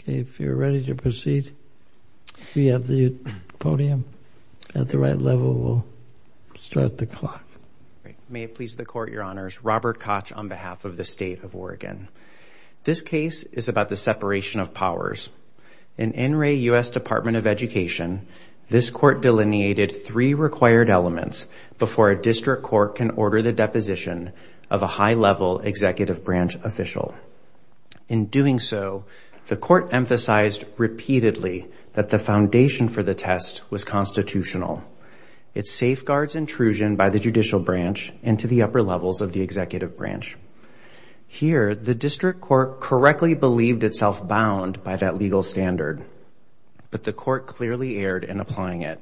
Okay, if you're ready to proceed We have the podium at the right level. We'll Start the clock May it please the court your honors Robert Koch on behalf of the state of Oregon This case is about the separation of powers in NRA US Department of Education This court delineated three required elements before a district court can order the deposition of a high-level executive branch official in Doing so the court emphasized repeatedly that the foundation for the test was constitutional It safeguards intrusion by the judicial branch and to the upper levels of the executive branch Here the district court correctly believed itself bound by that legal standard But the court clearly erred in applying it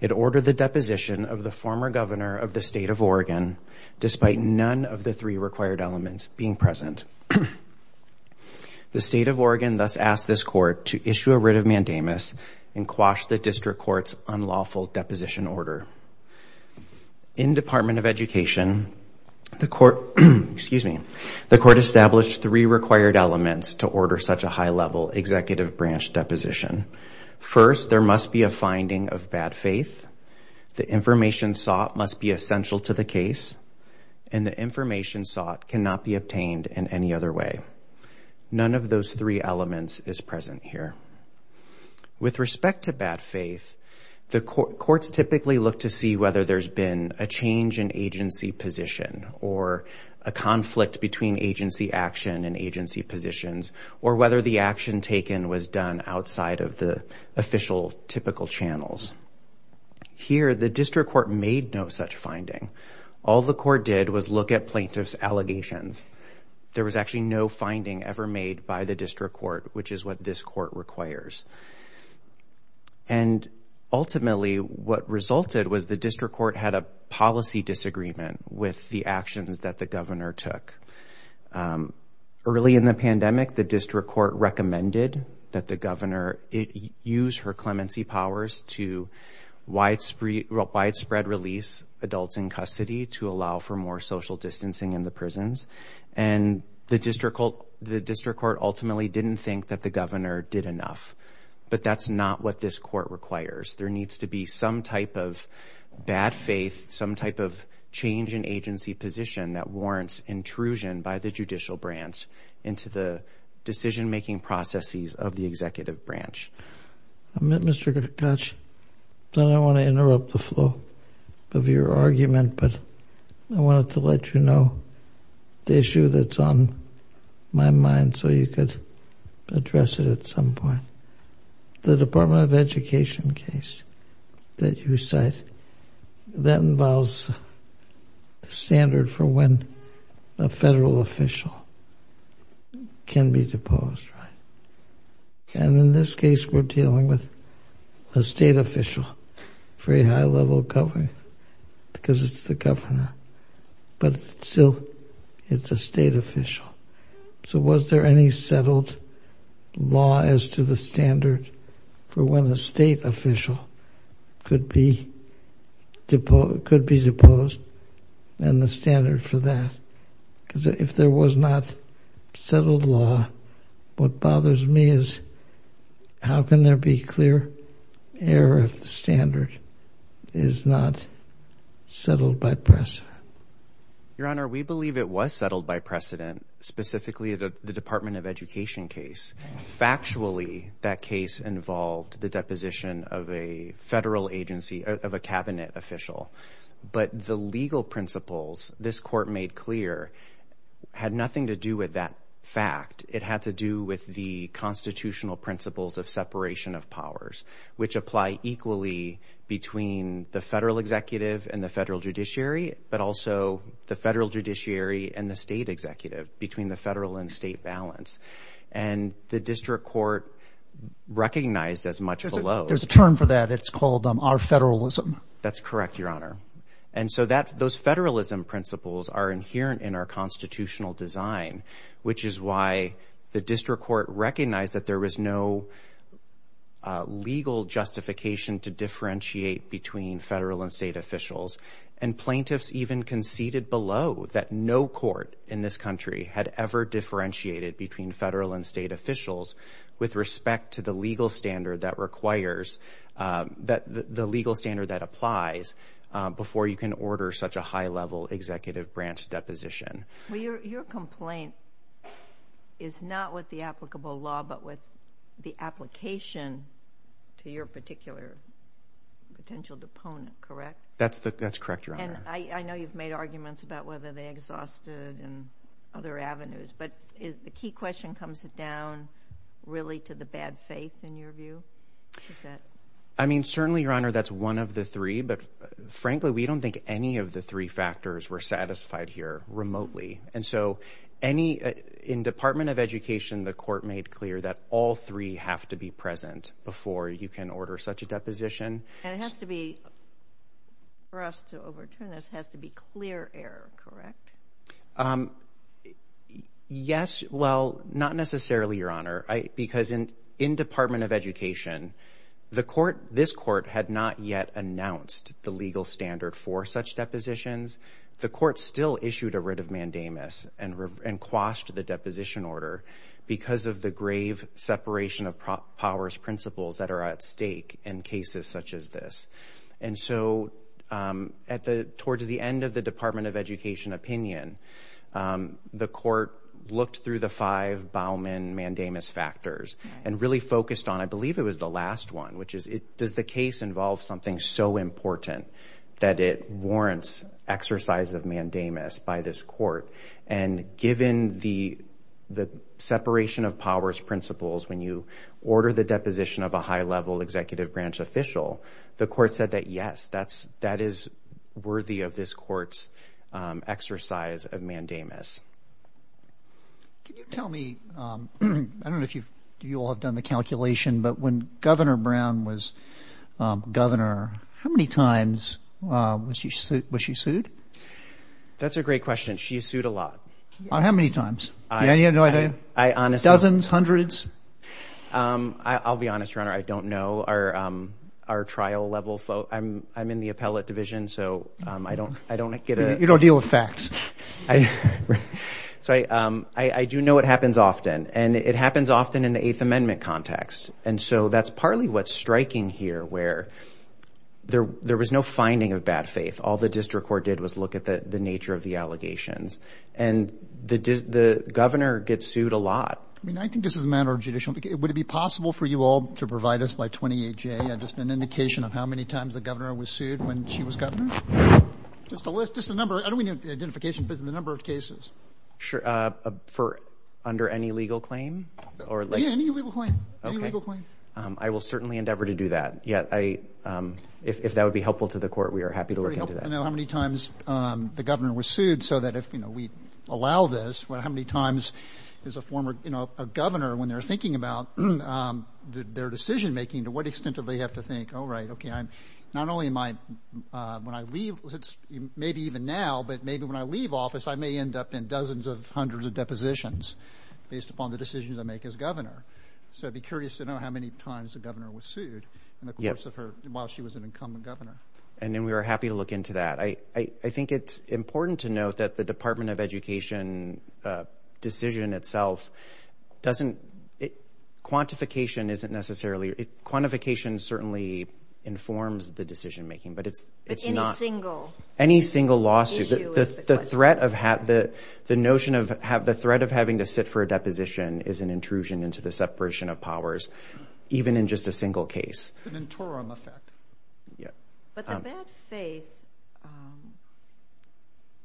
it ordered the deposition of the former governor of the state of Oregon Despite none of the three required elements being present The state of Oregon thus asked this court to issue a writ of mandamus and quash the district courts unlawful deposition order in Department of Education The court, excuse me, the court established three required elements to order such a high-level executive branch deposition first there must be a finding of bad faith the Information sought must be essential to the case and the information sought cannot be obtained in any other way None of those three elements is present here with respect to bad faith the courts typically look to see whether there's been a change in agency position or a conflict between agency action and agency positions or whether the action taken was done outside of the official typical channels Here the district court made no such finding all the court did was look at plaintiffs allegations There was actually no finding ever made by the district court, which is what this court requires and Ultimately what resulted was the district court had a policy disagreement with the actions that the governor took Early in the pandemic the district court recommended that the governor it used her clemency powers to Widespread release adults in custody to allow for more social distancing in the prisons and The district court the district court ultimately didn't think that the governor did enough, but that's not what this court requires there needs to be some type of bad faith some type of change in agency position that warrants intrusion by the judicial branch into the decision-making processes of the executive branch I'm at mr. Gakach So I don't want to interrupt the flow of your argument, but I wanted to let you know the issue that's on my mind so you could address it at some point the Department of Education case that you cite that involves Standard for when a federal official Can be deposed right? And in this case, we're dealing with a state official very high-level covering Because it's the governor But still it's a state official. So was there any settled? Law as to the standard for when a state official could be Deposed could be deposed and the standard for that because if there was not Settled law What bothers me is? How can there be clear? error of the standard is not settled by press Your honor. We believe it was settled by precedent specifically the Department of Education case Factually that case involved the deposition of a federal agency of a cabinet official But the legal principles this court made clear Had nothing to do with that fact it had to do with the constitutional principles of separation of powers which apply equally between the federal executive and the federal judiciary but also the federal judiciary and the state executive between the federal and state balance and the district court Recognized as much as there's a term for that. It's called them our federalism. That's correct, Your Honor And so that those federalism principles are inherent in our constitutional design Which is why the district court recognized that there was no Legal justification to differentiate between federal and state officials and Plaintiffs even conceded below that no court in this country had ever Differentiated between federal and state officials with respect to the legal standard that requires That the legal standard that applies Before you can order such a high-level executive branch deposition. Well, your complaint is Not with the applicable law, but with the application to your particular Potential deponent, correct? That's the that's correct, Your Honor. I know you've made arguments about whether they exhausted and other avenues But is the key question comes it down Really to the bad faith in your view. I Mean certainly your honor. That's one of the three, but frankly, we don't think any of the three factors were satisfied here remotely and so any In Department of Education the court made clear that all three have to be present before you can order such a deposition and it has to be For us to overturn this has to be clear error, correct? Yes, well not necessarily your honor I because in in Department of Education The court this court had not yet announced the legal standard for such depositions The court still issued a writ of mandamus and and quashed the deposition order because of the grave separation of powers principles that are at stake in cases such as this and so At the towards the end of the Department of Education opinion The court looked through the five Bauman mandamus factors and really focused on I believe it was the last one Which is it does the case involve something so important that it warrants? exercise of mandamus by this court and given the The separation of powers principles when you order the deposition of a high-level executive branch official The court said that yes, that's that is worthy of this courts Exercise of mandamus Can you tell me I don't know if you've you all have done the calculation but when governor Brown was Governor how many times was she sued? That's a great question. She sued a lot. How many times? Dozens hundreds I'll be honest your honor. I don't know our Our trial level flow, I'm I'm in the appellate division, so I don't I don't get it you don't deal with facts. I So I I do know it happens often and it happens often in the Eighth Amendment context and so that's partly what's striking here where there there was no finding of bad faith all the district court did was look at the the nature of the allegations and The does the governor get sued a lot? I mean, I think this is a matter of judicial because it would it be possible for you all to provide us by 28? Yeah, just an indication of how many times the governor was sued when she was governor Just a list just a number. I don't mean identification business number of cases. Sure for under any legal claim or I will certainly endeavor to do that. Yeah, I If that would be helpful to the court, we are happy to work into that How many times the governor was sued so that if you know, we allow this well how many times? There's a former, you know a governor when they're thinking about Their decision-making to what extent do they have to think? Oh, right. Okay. I'm not only in my When I leave it's maybe even now but maybe when I leave office I may end up in dozens of hundreds of depositions based upon the decisions I make as governor So I'd be curious to know how many times the governor was sued Yes of her while she was an incumbent governor and then we were happy to look into that I I think it's important to note that the Department of Education Decision itself Doesn't it quantification isn't necessarily it quantification certainly informs the decision-making but it's it's not single any single lawsuit the threat of hat that the notion of have the threat of having to Sit for a deposition is an intrusion into the separation of powers Even in just a single case Yeah But the bad faith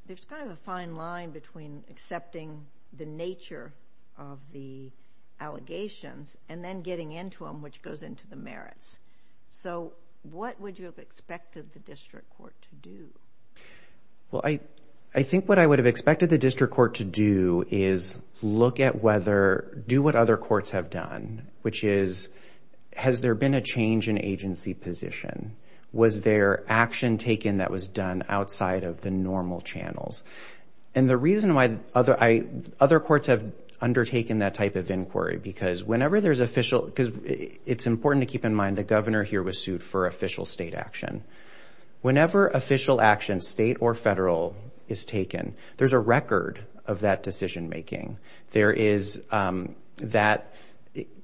There's kind of a fine line between accepting the nature of the Allegations and then getting into them which goes into the merits. So what would you have expected the district court to do? Well, I I think what I would have expected the district court to do is look at whether do what other courts have done which is Has there been a change in agency position was there action taken that was done outside of the normal channels and the reason why other I other courts have Undertaken that type of inquiry because whenever there's official because it's important to keep in mind the governor here was sued for official state action Whenever official action state or federal is taken. There's a record of that decision-making there is that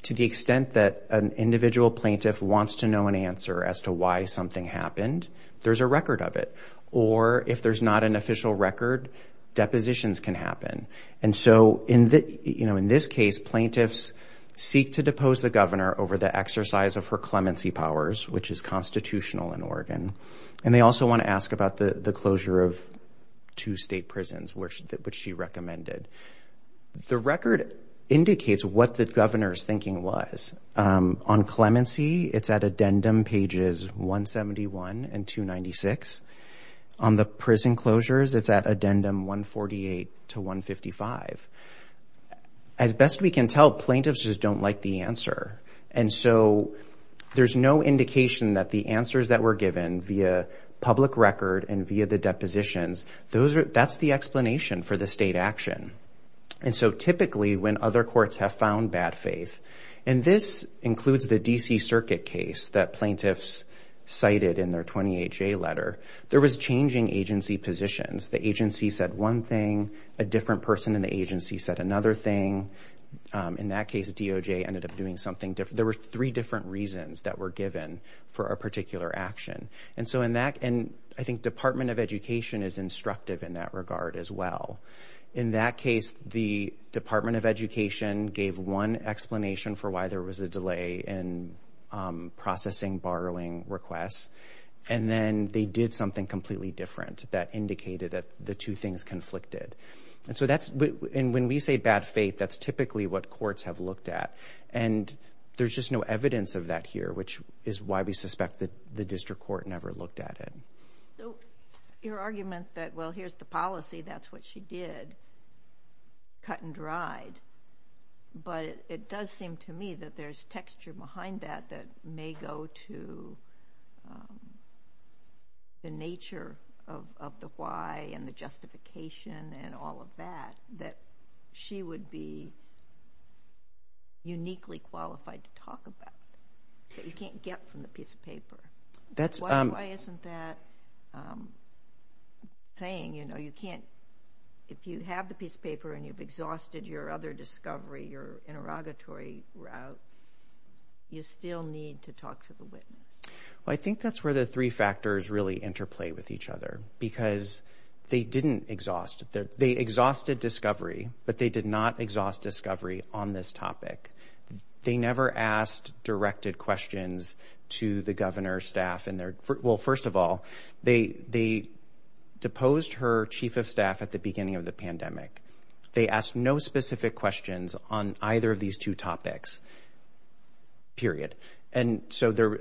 To the extent that an individual plaintiff wants to know an answer as to why something happened There's a record of it or if there's not an official record Depositions can happen and so in the you know In this case plaintiffs seek to depose the governor over the exercise of her clemency powers, which is constitutional in Oregon And they also want to ask about the the closure of two state prisons, which that which she recommended The record Indicates what the governor's thinking was on clemency. It's at addendum pages 171 and 296 on the prison closures. It's at addendum 148 to 155 as best we can tell plaintiffs just don't like the answer and so There's no indication that the answers that were given via public record and via the depositions Those are that's the explanation for the state action And so typically when other courts have found bad faith and this includes the DC Circuit case that plaintiffs Cited in their 28 J letter there was changing agency positions The agency said one thing a different person in the agency said another thing In that case DOJ ended up doing something different There were three different reasons that were given for a particular action And so in that and I think Department of Education is instructive in that regard as well in that case the Department of Education gave one explanation for why there was a delay in Processing borrowing requests and then they did something completely different that indicated that the two things conflicted and so that's and when we say bad faith, that's typically what courts have looked at and There's just no evidence of that here, which is why we suspect that the district court never looked at it Your argument that well, here's the policy. That's what she did cut and dried But it does seem to me that there's texture behind that that may go to The nature of the why and the justification and all of that that she would be Uniquely qualified to talk about you can't get from the piece of paper. That's why isn't that Saying you know, you can't if you have the piece of paper and you've exhausted your other discovery your interrogatory route You still need to talk to the witness I think that's where the three factors really interplay with each other because they didn't exhaust that they exhausted discovery But they did not exhaust discovery on this topic They never asked directed questions to the governor's staff in there. Well, first of all, they they Deposed her chief of staff at the beginning of the pandemic. They asked no specific questions on either of these two topics Period and so there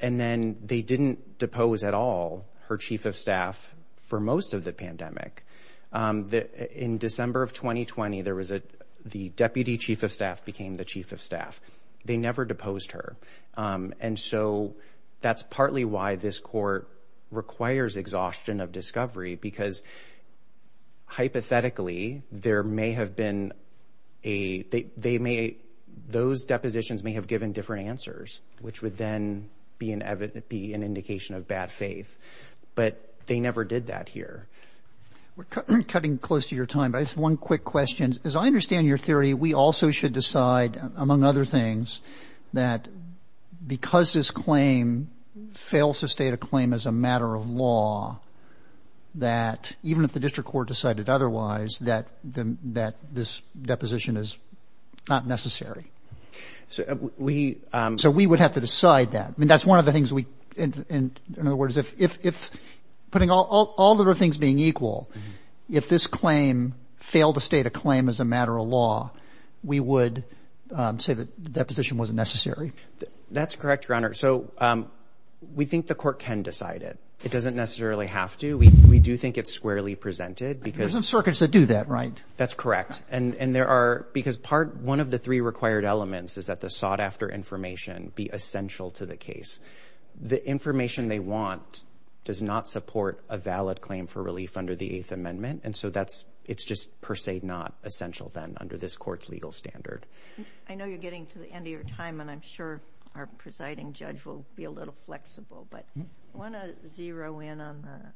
and then they didn't depose at all her chief of staff for most of the pandemic That in December of 2020 there was a the deputy chief of staff became the chief of staff they never deposed her and so that's partly why this court requires exhaustion of discovery because Hypothetically there may have been a They may those depositions may have given different answers, which would then be an evidence be an indication of bad faith But they never did that here Cutting close to your time, but it's one quick question as I understand your theory. We also should decide among other things that Because this claim Fails to state a claim as a matter of law That even if the district court decided otherwise that them that this deposition is not necessary so we so we would have to decide that I mean that's one of the things we in other words if if Putting all the other things being equal if this claim failed to state a claim as a matter of law we would Say that that position wasn't necessary. That's correct your honor. So We think the court can decide it. It doesn't necessarily have to we do think it's squarely presented because some circuits that do that Right, that's correct And and there are because part one of the three required elements is that the sought-after information be essential to the case The information they want Does not support a valid claim for relief under the eighth amendment And so that's it's just per se not essential then under this court's legal standard I know you're getting to the end of your time, and I'm sure our presiding judge will be a little flexible but I want to zero in on the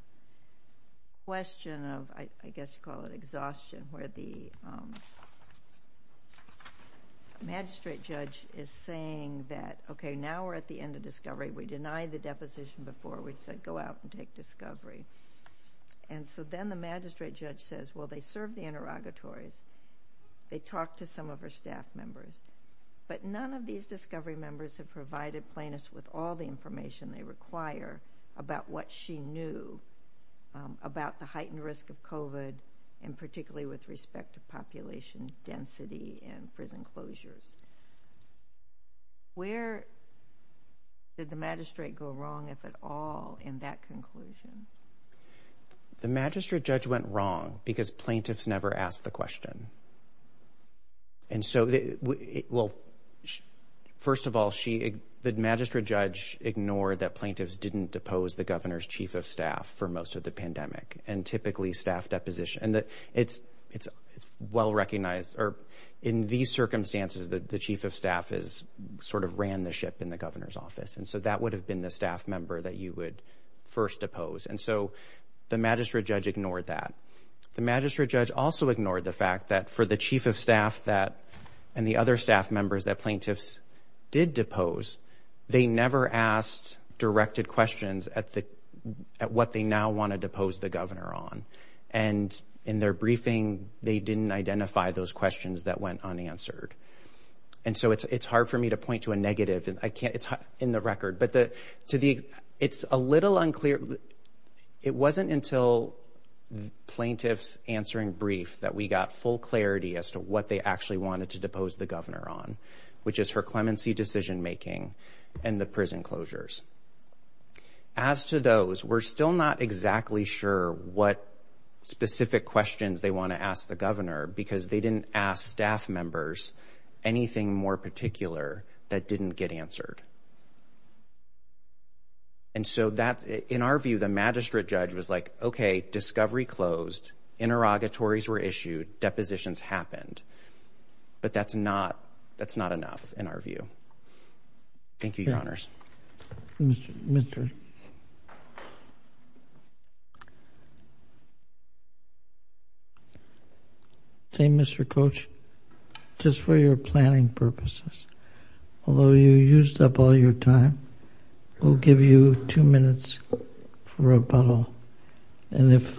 question of I guess call it exhaustion where the Magistrate judge is saying that okay now we're at the end of discovery. We denied the deposition before we said go out and take discovery and So then the magistrate judge says well, they serve the interrogatories They talked to some of her staff members But none of these discovery members have provided plainness with all the information they require about what she knew About the heightened risk of kovat and particularly with respect to population density and prison closures Where Did the magistrate go wrong if at all in that conclusion? the magistrate judge went wrong because plaintiffs never asked the question and so it will First of all, she did magistrate judge ignored that plaintiffs didn't depose the governor's chief of staff for most of the pandemic and typically staff deposition and that it's it's Well recognized or in these circumstances that the chief of staff is sort of ran the ship in the governor's office And so that would have been the staff member that you would first oppose And so the magistrate judge ignored that The magistrate judge also ignored the fact that for the chief of staff that and the other staff members that plaintiffs did depose They never asked directed questions at the at what they now want to depose the governor on and in their briefing, they didn't identify those questions that went unanswered and So it's it's hard for me to point to a negative and I can't it's hot in the record But the to the it's a little unclear It wasn't until Plaintiffs answering brief that we got full clarity as to what they actually wanted to depose the governor on which is her clemency decision-making and the prison closures as To those we're still not exactly sure what? Specific questions they want to ask the governor because they didn't ask staff members anything more particular that didn't get answered and So that in our view the magistrate judge was like, okay discovery closed Interrogatories were issued depositions happened But that's not that's not enough in our view Thank You, Your Honors Say mr. Coach Just for your planning purposes Although you used up all your time We'll give you two minutes for a bottle and if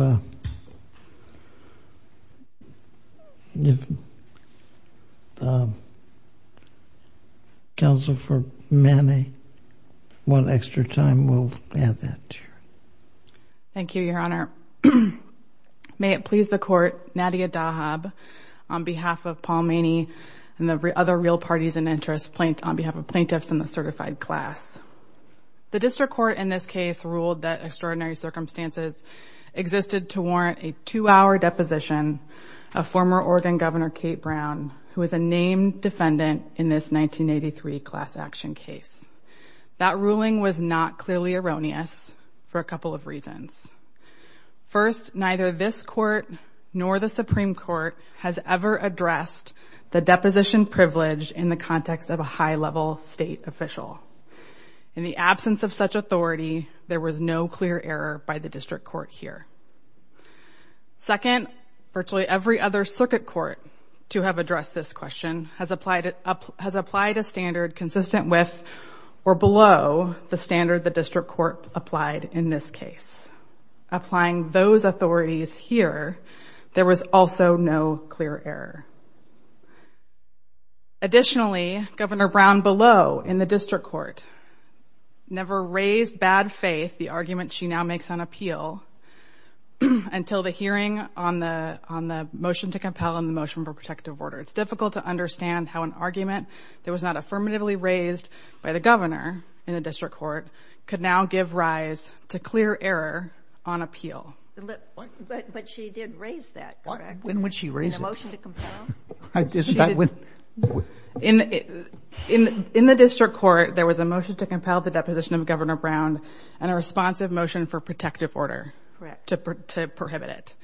Counsel for many one extra time we'll add that Thank you, Your Honor May it please the court Nadia Dahab on behalf of Paul Maney and the other real parties and interest point on behalf of plaintiffs in the certified class The district court in this case ruled that extraordinary circumstances Existed to warrant a two-hour deposition a former Oregon governor Kate Brown who is a named defendant in this 1983 class action case that ruling was not clearly erroneous for a couple of reasons First neither this court nor the Supreme Court has ever addressed The deposition privilege in the context of a high-level state official In the absence of such authority, there was no clear error by the district court here Second virtually every other circuit court to have addressed this question has applied it up has applied a standard consistent with Or below the standard the district court applied in this case Applying those authorities here. There was also no clear error Additionally governor Brown below in the district court Never raised bad faith the argument. She now makes on appeal Until the hearing on the on the motion to compel in the motion for protective order It's difficult to understand how an argument there was not affirmatively raised by the governor in the district court Could now give rise to clear error on appeal But she did raise that when would she raise In In in the district court, there was a motion to compel the deposition of governor Brown and a responsive motion for protective order To prohibit it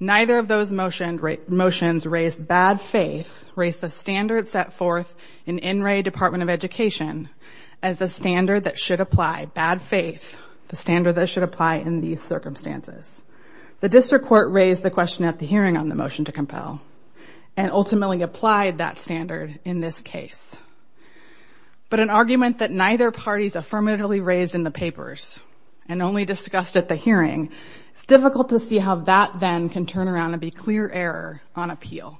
neither of those motioned motions raised bad faith raised the standard set forth in NRA Department of Education as the standard that should apply bad faith the standard that should apply in these circumstances The district court raised the question at the hearing on the motion to compel and ultimately applied that standard in this case But an argument that neither parties affirmatively raised in the papers and only discussed at the hearing It's difficult to see how that then can turn around and be clear error on appeal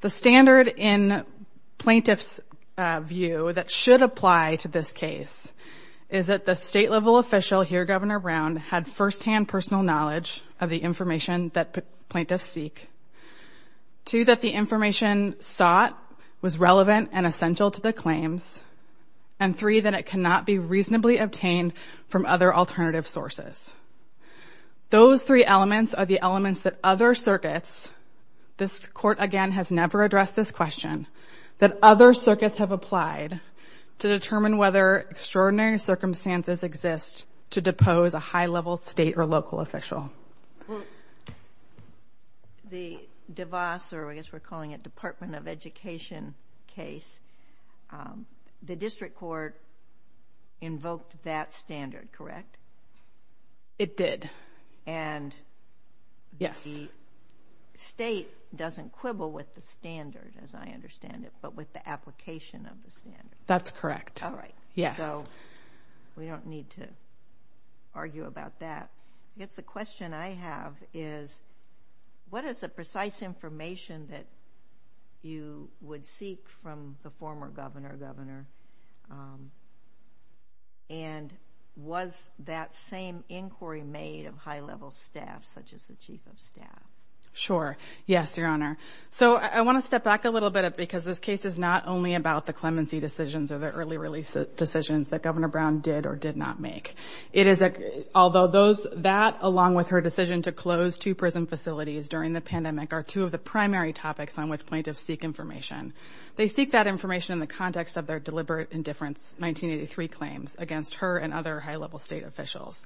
the standard in plaintiffs View that should apply to this case is that the state-level official here governor Brown had first-hand personal knowledge of the information that plaintiffs seek to that the information sought was relevant and essential to the claims and Three that it cannot be reasonably obtained from other alternative sources Those three elements are the elements that other circuits This court again has never addressed this question that other circuits have applied to determine whether Extraordinary circumstances exist to depose a high-level state or local official The device or I guess we're calling it Department of Education case the district court Invoked that standard, correct it did and Yes State doesn't quibble with the standard as I understand it, but with the application of the standard, that's correct. All right. Yeah We don't need to Argue about that. It's the question I have is What is the precise information that? You would seek from the former governor governor and Was that same inquiry made of high-level staff such as the chief of staff sure Yes, your honor So I want to step back a little bit because this case is not only about the clemency decisions or the early release Decisions that governor Brown did or did not make it is a although those that along with her decision to close two prison Facilities during the pandemic are two of the primary topics on which plaintiffs seek information They seek that information in the context of their deliberate indifference 1983 claims against her and other high-level state officials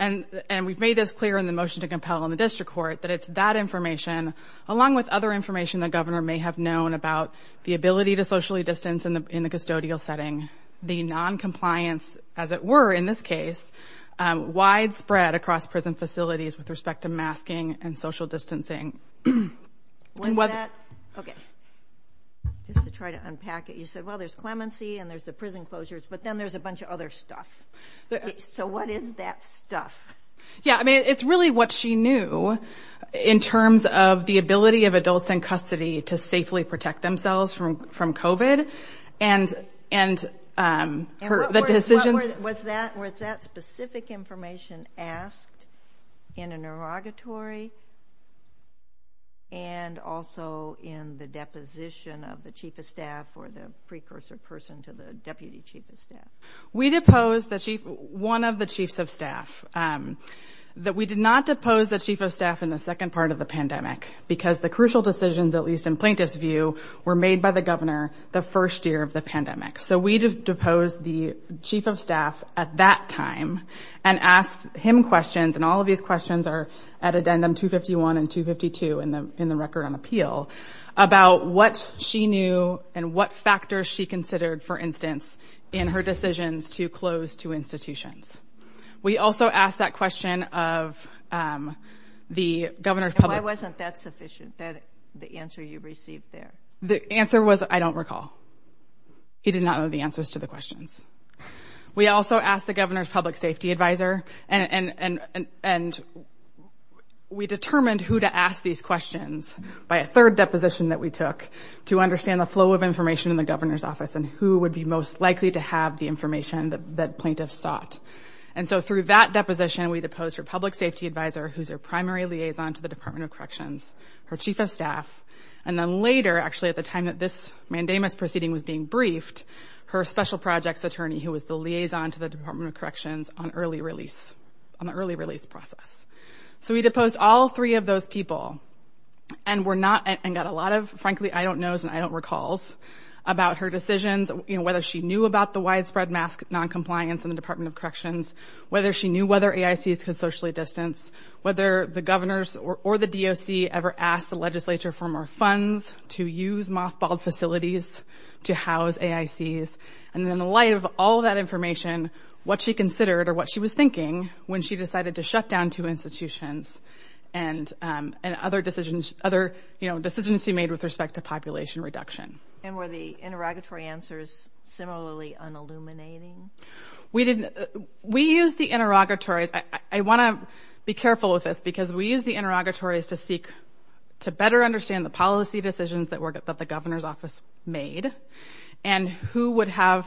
and And we've made this clear in the motion to compel in the district court But it's that information along with other information the governor may have known about The ability to socially distance in the custodial setting the non-compliance as it were in this case widespread across prison facilities with respect to masking and social distancing when what Just to try to unpack it. You said well, there's clemency and there's the prison closures, but then there's a bunch of other stuff So what is that stuff? Yeah, I mean, it's really what she knew in terms of the ability of adults in custody to safely protect themselves from from kovat and and Her the decision was that where it's that specific information asked in an erogatory and Also in the deposition of the chief of staff or the precursor person to the deputy chief of staff We deposed the chief one of the chiefs of staff That we did not depose the chief of staff in the second part of the pandemic Because the crucial decisions at least in plaintiffs view were made by the governor the first year of the pandemic So we did depose the chief of staff at that time and asked him questions And all of these questions are at addendum 251 and 252 in the in the record on appeal About what she knew and what factors she considered for instance in her decisions to close to institutions we also asked that question of The governor's public wasn't that sufficient that the answer you received there the answer was I don't recall He did not know the answers to the questions We also asked the governor's public safety advisor and and and and We determined who to ask these questions by a third deposition that we took To understand the flow of information in the governor's office and who would be most likely to have the information that that plaintiffs thought And so through that deposition we deposed her public safety advisor Who's her primary liaison to the Department of Corrections? Her chief of staff and then later actually at the time that this mandamus proceeding was being briefed Her special projects attorney who was the liaison to the Department of Corrections on early release on the early release process So we deposed all three of those people and we're not and got a lot of frankly I don't knows and I don't recalls about her decisions, you know Whether she knew about the widespread mask non-compliance in the Department of Corrections Whether she knew whether a ICS could socially distance Whether the governor's or the DOC ever asked the legislature for more funds to use mothballed facilities To house a ICS and then the light of all that information what she considered or what she was thinking when she decided to shut down two institutions and And other decisions other, you know decisions she made with respect to population reduction and where the interrogatory answers similarly on illuminating We didn't we use the interrogatories I want to be careful with this because we use the interrogatories to seek To better understand the policy decisions that work at that the governor's office made and Who would have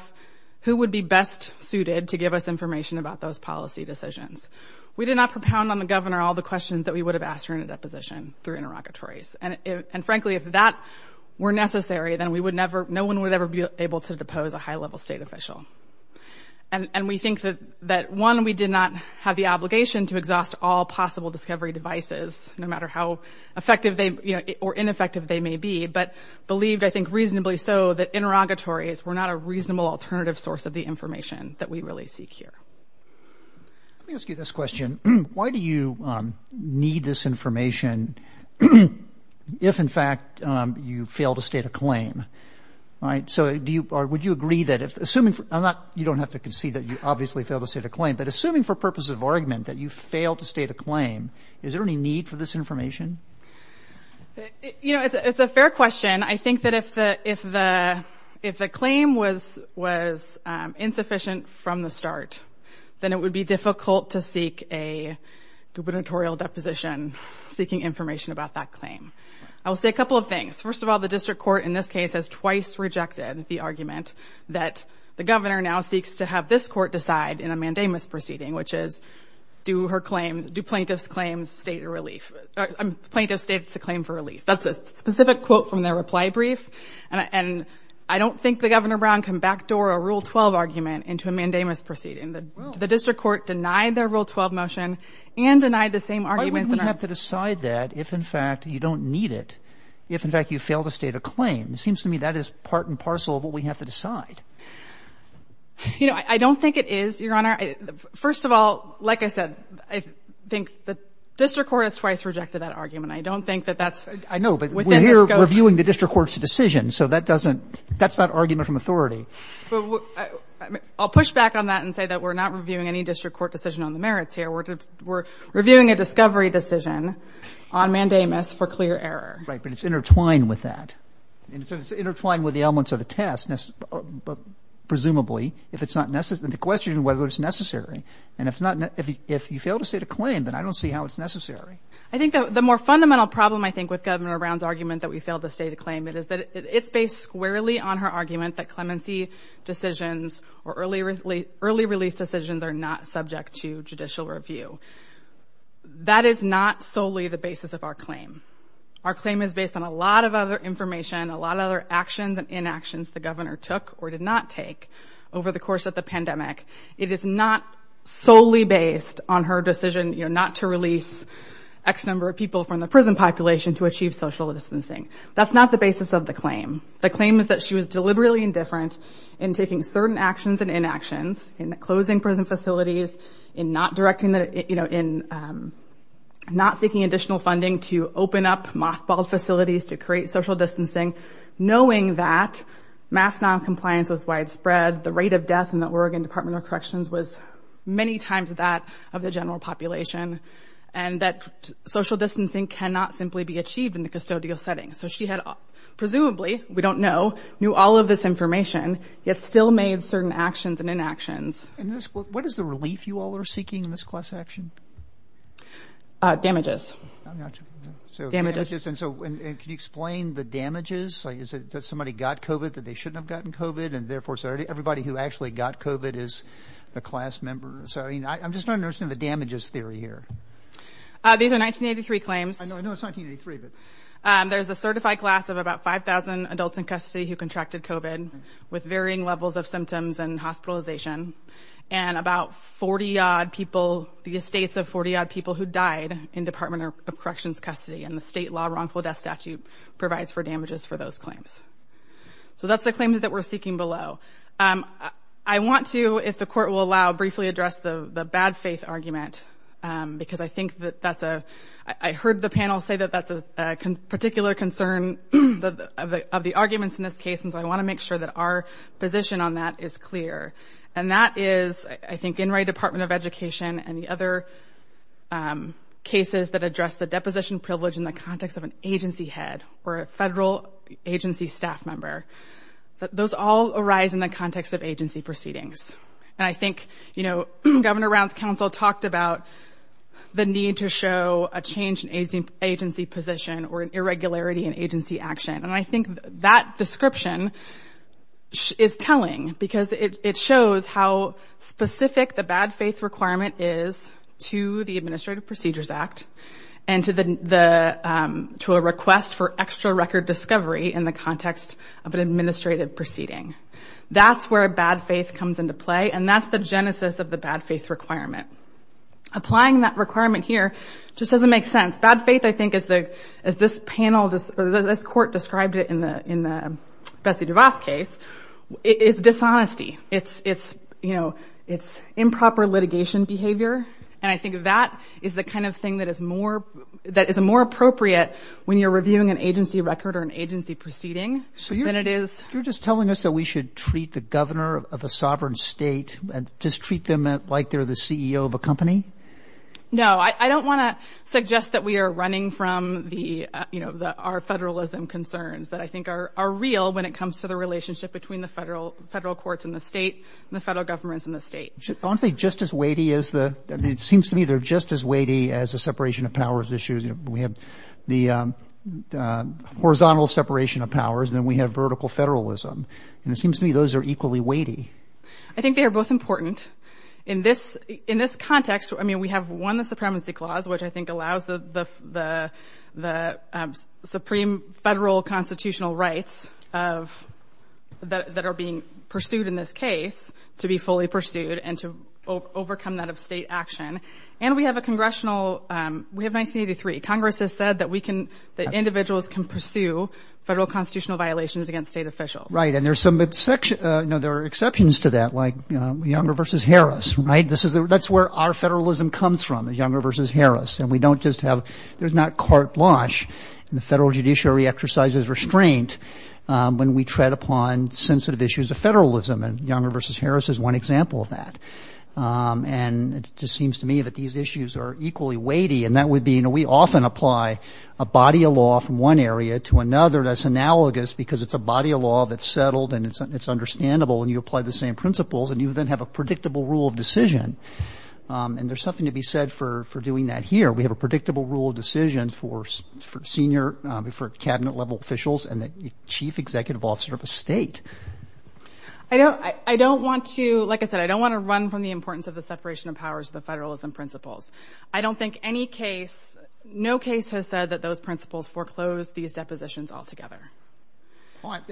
who would be best suited to give us information about those policy decisions? We did not propound on the governor all the questions that we would have asked her in a deposition through interrogatories and and frankly if that were necessary, then we would never no one would ever be able to depose a high-level state official and And we think that that one we did not have the obligation to exhaust all possible discovery devices No matter how effective they you know or ineffective they may be but believed I think reasonably so that interrogatories We're not a reasonable alternative source of the information that we really seek here Let me ask you this question. Why do you? Need this information If in fact you fail to state a claim All right So do you or would you agree that if assuming for not you don't have to concede that you obviously fail to say to claim Assuming for purposes of argument that you fail to state a claim. Is there any need for this information? You know, it's a fair question. I think that if the if the if the claim was was insufficient from the start then it would be difficult to seek a gubernatorial deposition Seeking information about that claim. I will say a couple of things first of all The district court in this case has twice rejected the argument that the governor now seeks to have this court decide in a mandamus proceeding Which is do her claim do plaintiffs claims state a relief. I'm plaintiff states a claim for relief That's a specific quote from their reply brief And and I don't think the governor Brown can backdoor a rule 12 argument into a mandamus proceeding The district court denied their rule 12 motion and denied the same arguments Decide that if in fact you don't need it if in fact you fail to state a claim It seems to me that is part and parcel of what we have to decide You know, I don't think it is your honor First of all, like I said, I think the district court has twice rejected that argument I don't think that that's I know but we're here reviewing the district court's decision. So that doesn't that's not argument from Authority I'll push back on that and say that we're not reviewing any district court decision on the merits here We're reviewing a discovery decision on mandamus for clear error, right but it's intertwined with that intertwined with the elements of the testness Presumably if it's not necessary the question whether it's necessary and it's not if you fail to state a claim Then I don't see how it's necessary. I think the more fundamental problem I think with governor Brown's argument that we failed to state a claim It is that it's based squarely on her argument that clemency Decisions or early early early release decisions are not subject to judicial review That is not solely the basis of our claim Our claim is based on a lot of other information a lot of other actions and inactions the governor took or did not take Over the course of the pandemic it is not solely based on her decision, you know, not to release X number of people from the prison population to achieve social distancing That's not the basis of the claim The claim is that she was deliberately indifferent in taking certain actions and inactions in the closing prison facilities in not directing that you know in Not seeking additional funding to open up mothballed facilities to create social distancing knowing that mass non-compliance was widespread the rate of death in the Oregon Department of Corrections was Many times that of the general population and that social distancing cannot simply be achieved in the custodial setting So she had presumably we don't know knew all of this information Yet still made certain actions and inactions in this book. What is the relief you all are seeking in this class action? Damages Resistance. Oh, can you explain the damages? Is it that somebody got kovat that they shouldn't have gotten kovat and therefore Saturday everybody who actually got kovat is a class member So, you know, I'm just not nursing the damages theory here These are 1983 claims And there's a certified class of about 5,000 adults in custody who contracted kovat with varying levels of symptoms and hospitalization and About 40 odd people the estates of 40 odd people who died in Department of Corrections custody and the state law wrongful death statute provides for damages for those claims So that's the claim is that we're seeking below. I Want to if the court will allow briefly address the the bad faith argument Because I think that that's a I heard the panel say that that's a particular concern the of the arguments in this case and so I want to make sure that our Position on that is clear and that is I think in right Department of Education and the other Cases that address the deposition privilege in the context of an agency head or a federal agency staff member Those all arise in the context of agency proceedings And I think you know governor rounds council talked about The need to show a change in aging agency position or an irregularity in agency action, and I think that description is telling because it shows how specific the bad faith requirement is to the Administrative Procedures Act and to the To a request for extra record discovery in the context of an administrative proceeding That's where a bad faith comes into play and that's the genesis of the bad faith requirement Applying that requirement here just doesn't make sense bad faith I think is the as this panel just this court described it in the in the Betsy DeVos case It's dishonesty. It's it's you know, it's improper litigation behavior And I think that is the kind of thing that is more That is a more appropriate when you're reviewing an agency record or an agency proceeding So you know it is you're just telling us that we should treat the governor of a sovereign state And just treat them like they're the CEO of a company No, I don't want to suggest that we are running from the you know that our federalism concerns that I think are real when it comes to the relationship between the federal federal courts in the state and the federal governments in the state Honestly, just as weighty as the it seems to me. They're just as weighty as a separation of powers issues. You know, we have the Horizontal separation of powers then we have vertical federalism and it seems to me those are equally weighty I think they are both important in this in this context I mean we have won the Supremacy Clause, which I think allows the the the supreme federal constitutional rights of That are being pursued in this case to be fully pursued and to overcome that of state action And we have a congressional We have 1983 Congress has said that we can the individuals can pursue federal constitutional violations against state officials, right? And there's some midsection. No, there are exceptions to that like younger versus Harris, right? This is that's where our federalism comes from the younger versus Harris and we don't just have there's not court launch And the federal judiciary exercises restraint When we tread upon sensitive issues of federalism and younger versus Harris is one example of that And it just seems to me that these issues are equally weighty and that would be you know We often apply a body of law from one area to another that's analogous because it's a body of law that's settled and it's Understandable and you apply the same principles and you then have a predictable rule of decision And there's something to be said for for doing that here We have a predictable rule of decision for for senior before cabinet level officials and the chief executive officer of a state I don't I don't want to like I said, I don't want to run from the importance of the separation of powers the federalism principles I don't think any case No case has said that those principles foreclosed these depositions all together But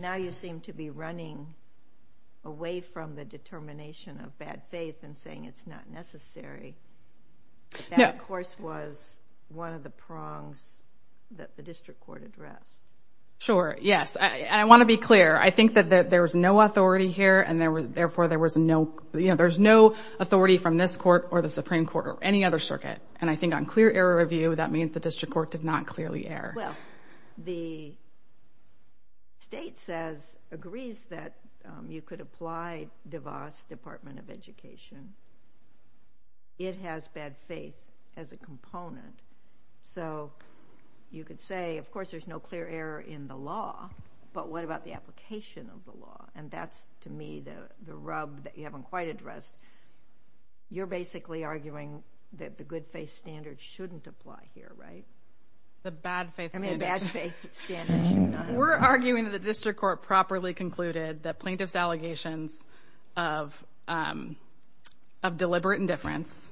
now you seem to be running away from the determination of bad faith and saying it's not necessary Yeah, of course was one of the prongs That the district court address Sure. Yes, I want to be clear I think that there was no authority here and there was therefore there was no you know There's no authority from this court or the Supreme Court or any other circuit and I think on clear error review that means the district court did not clearly err well the It has bad faith as a component so You could say of course, there's no clear error in the law But what about the application of the law and that's to me the the rub that you haven't quite addressed You're basically arguing that the good-faith standard shouldn't apply here, right? the bad faith We're arguing the district court properly concluded that plaintiff's allegations of Of deliberate indifference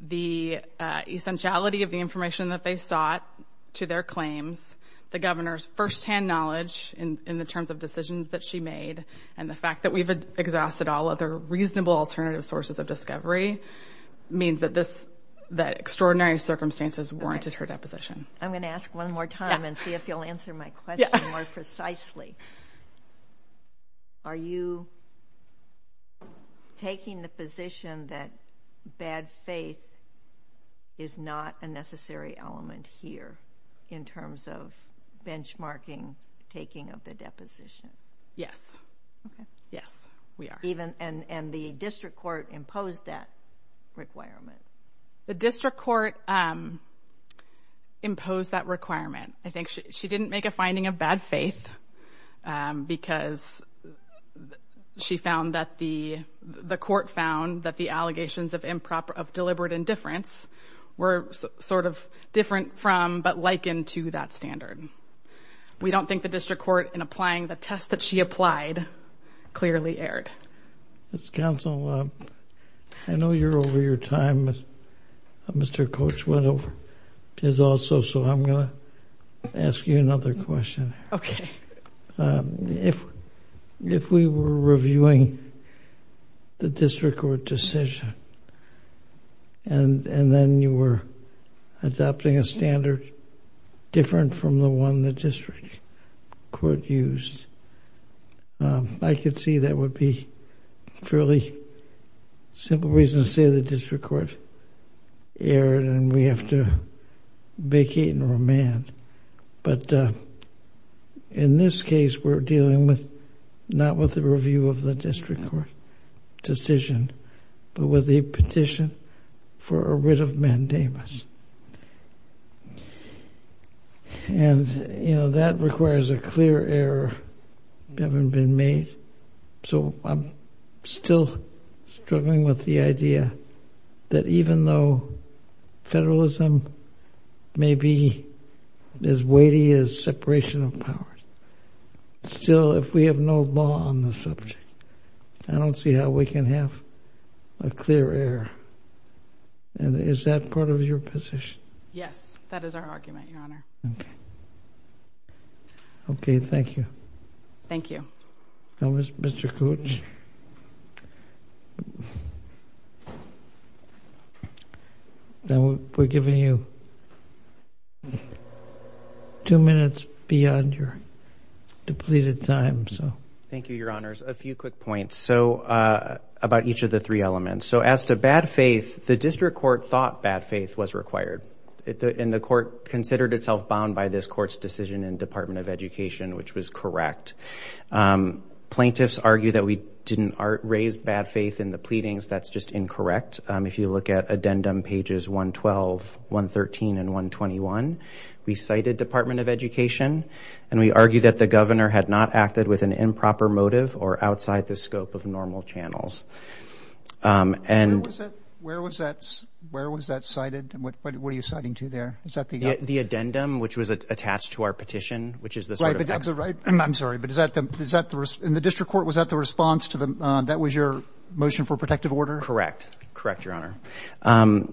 the essentiality of the information that they sought to their claims the governor's first-hand knowledge in the terms of decisions that she made and the fact that we've exhausted all other reasonable alternative sources of discovery Means that this that extraordinary circumstances warranted her deposition. I'm gonna ask one more time and see if you'll answer my question more precisely Are you Taking the position that bad faith is not a necessary element here in terms of benchmarking taking of the deposition Yes Yes, we are even and and the district court imposed that requirement the district court Imposed that requirement I think she didn't make a finding of bad faith because She found that the the court found that the allegations of improper of deliberate indifference Were sort of different from but likened to that standard We don't think the district court in applying the test that she applied clearly aired It's council. I Know you're over your time Mr. Coach went over is also so I'm gonna ask you another question. Okay If if we were reviewing the district court decision and and then you were adopting a standard different from the one the district court used I Could see that would be fairly simple reason to say the district court aired and we have to vacate and remand but In this case, we're dealing with not with the review of the district court Decision but with a petition for a writ of mandamus And you know that requires a clear air Haven't been made. So I'm still struggling with the idea that even though federalism may be As weighty as separation of powers Still if we have no law on the subject, I don't see how we can have a clear air And is that part of your position? Yes, that is our argument your honor. Okay Okay, thank you, thank you now, mr. Coach Now we're giving you Two minutes beyond your Depleted time. So thank you your honors a few quick points. So About each of the three elements. So as to bad faith the district court thought bad faith was required In the court considered itself bound by this court's decision in Department of Education, which was correct Plaintiffs argue that we didn't raise bad faith in the pleadings That's just incorrect. If you look at addendum pages 112 113 and 121 We cited Department of Education and we argue that the governor had not acted with an improper motive or outside the scope of normal channels And where was that? Where was that cited and what were you citing to there? It's not the addendum which was attached to our petition, which is the right. I'm sorry But is that them is that the rest in the district court? Was that the response to them that was your motion for protective order, correct? Correct, your honor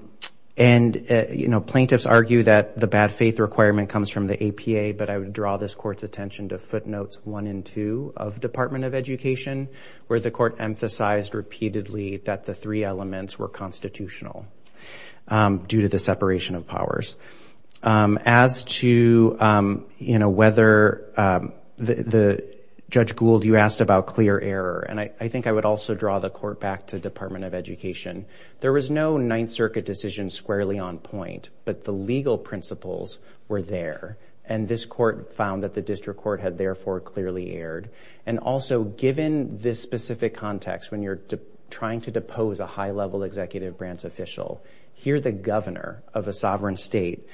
and You know plaintiffs argue that the bad faith requirement comes from the APA But I would draw this court's attention to footnotes one and two of Department of Education Where the court emphasized repeatedly that the three elements were constitutional due to the separation of powers as to you know whether The judge Gould you asked about clear error, and I think I would also draw the court back to Department of Education There was no Ninth Circuit decision squarely on point but the legal principles were there and this court found that the district court had therefore clearly erred and Also given this specific context when you're trying to depose a high-level executive branch official Here the governor of a sovereign state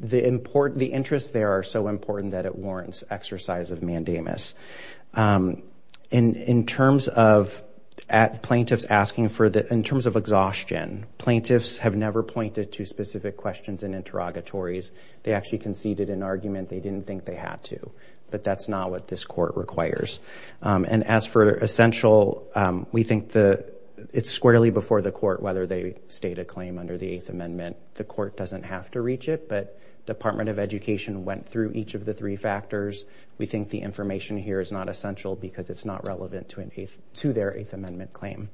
The important the interests there are so important that it warrants exercise of mandamus in in terms of Plaintiffs asking for that in terms of exhaustion plaintiffs have never pointed to specific questions and interrogatories They actually conceded an argument. They didn't think they had to but that's not what this court requires and as for essential We think the it's squarely before the court whether they state a claim under the Eighth Amendment The court doesn't have to reach it but Department of Education went through each of the three factors We think the information here is not essential because it's not relevant to an eighth to their Eighth Amendment claim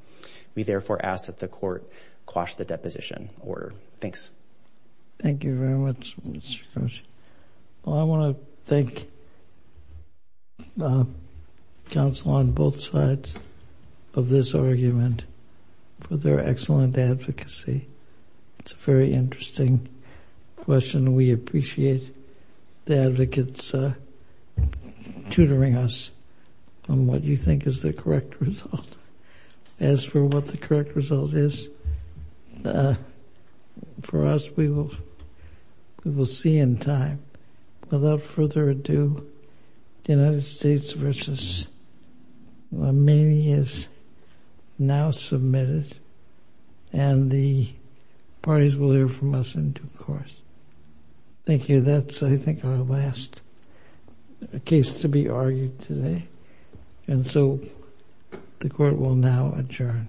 We therefore ask that the court quash the deposition order. Thanks Thank you very much Well, I want to thank Council on both sides of this argument For their excellent advocacy It's a very interesting question we appreciate The advocates Tutoring us on what you think is the correct result as for what the correct result is For us we will we will see in time without further ado the United States versus Armenia's now submitted and the Parties will hear from us in due course Thank you, that's I think our last Case to be argued today. And so the court will now adjourn You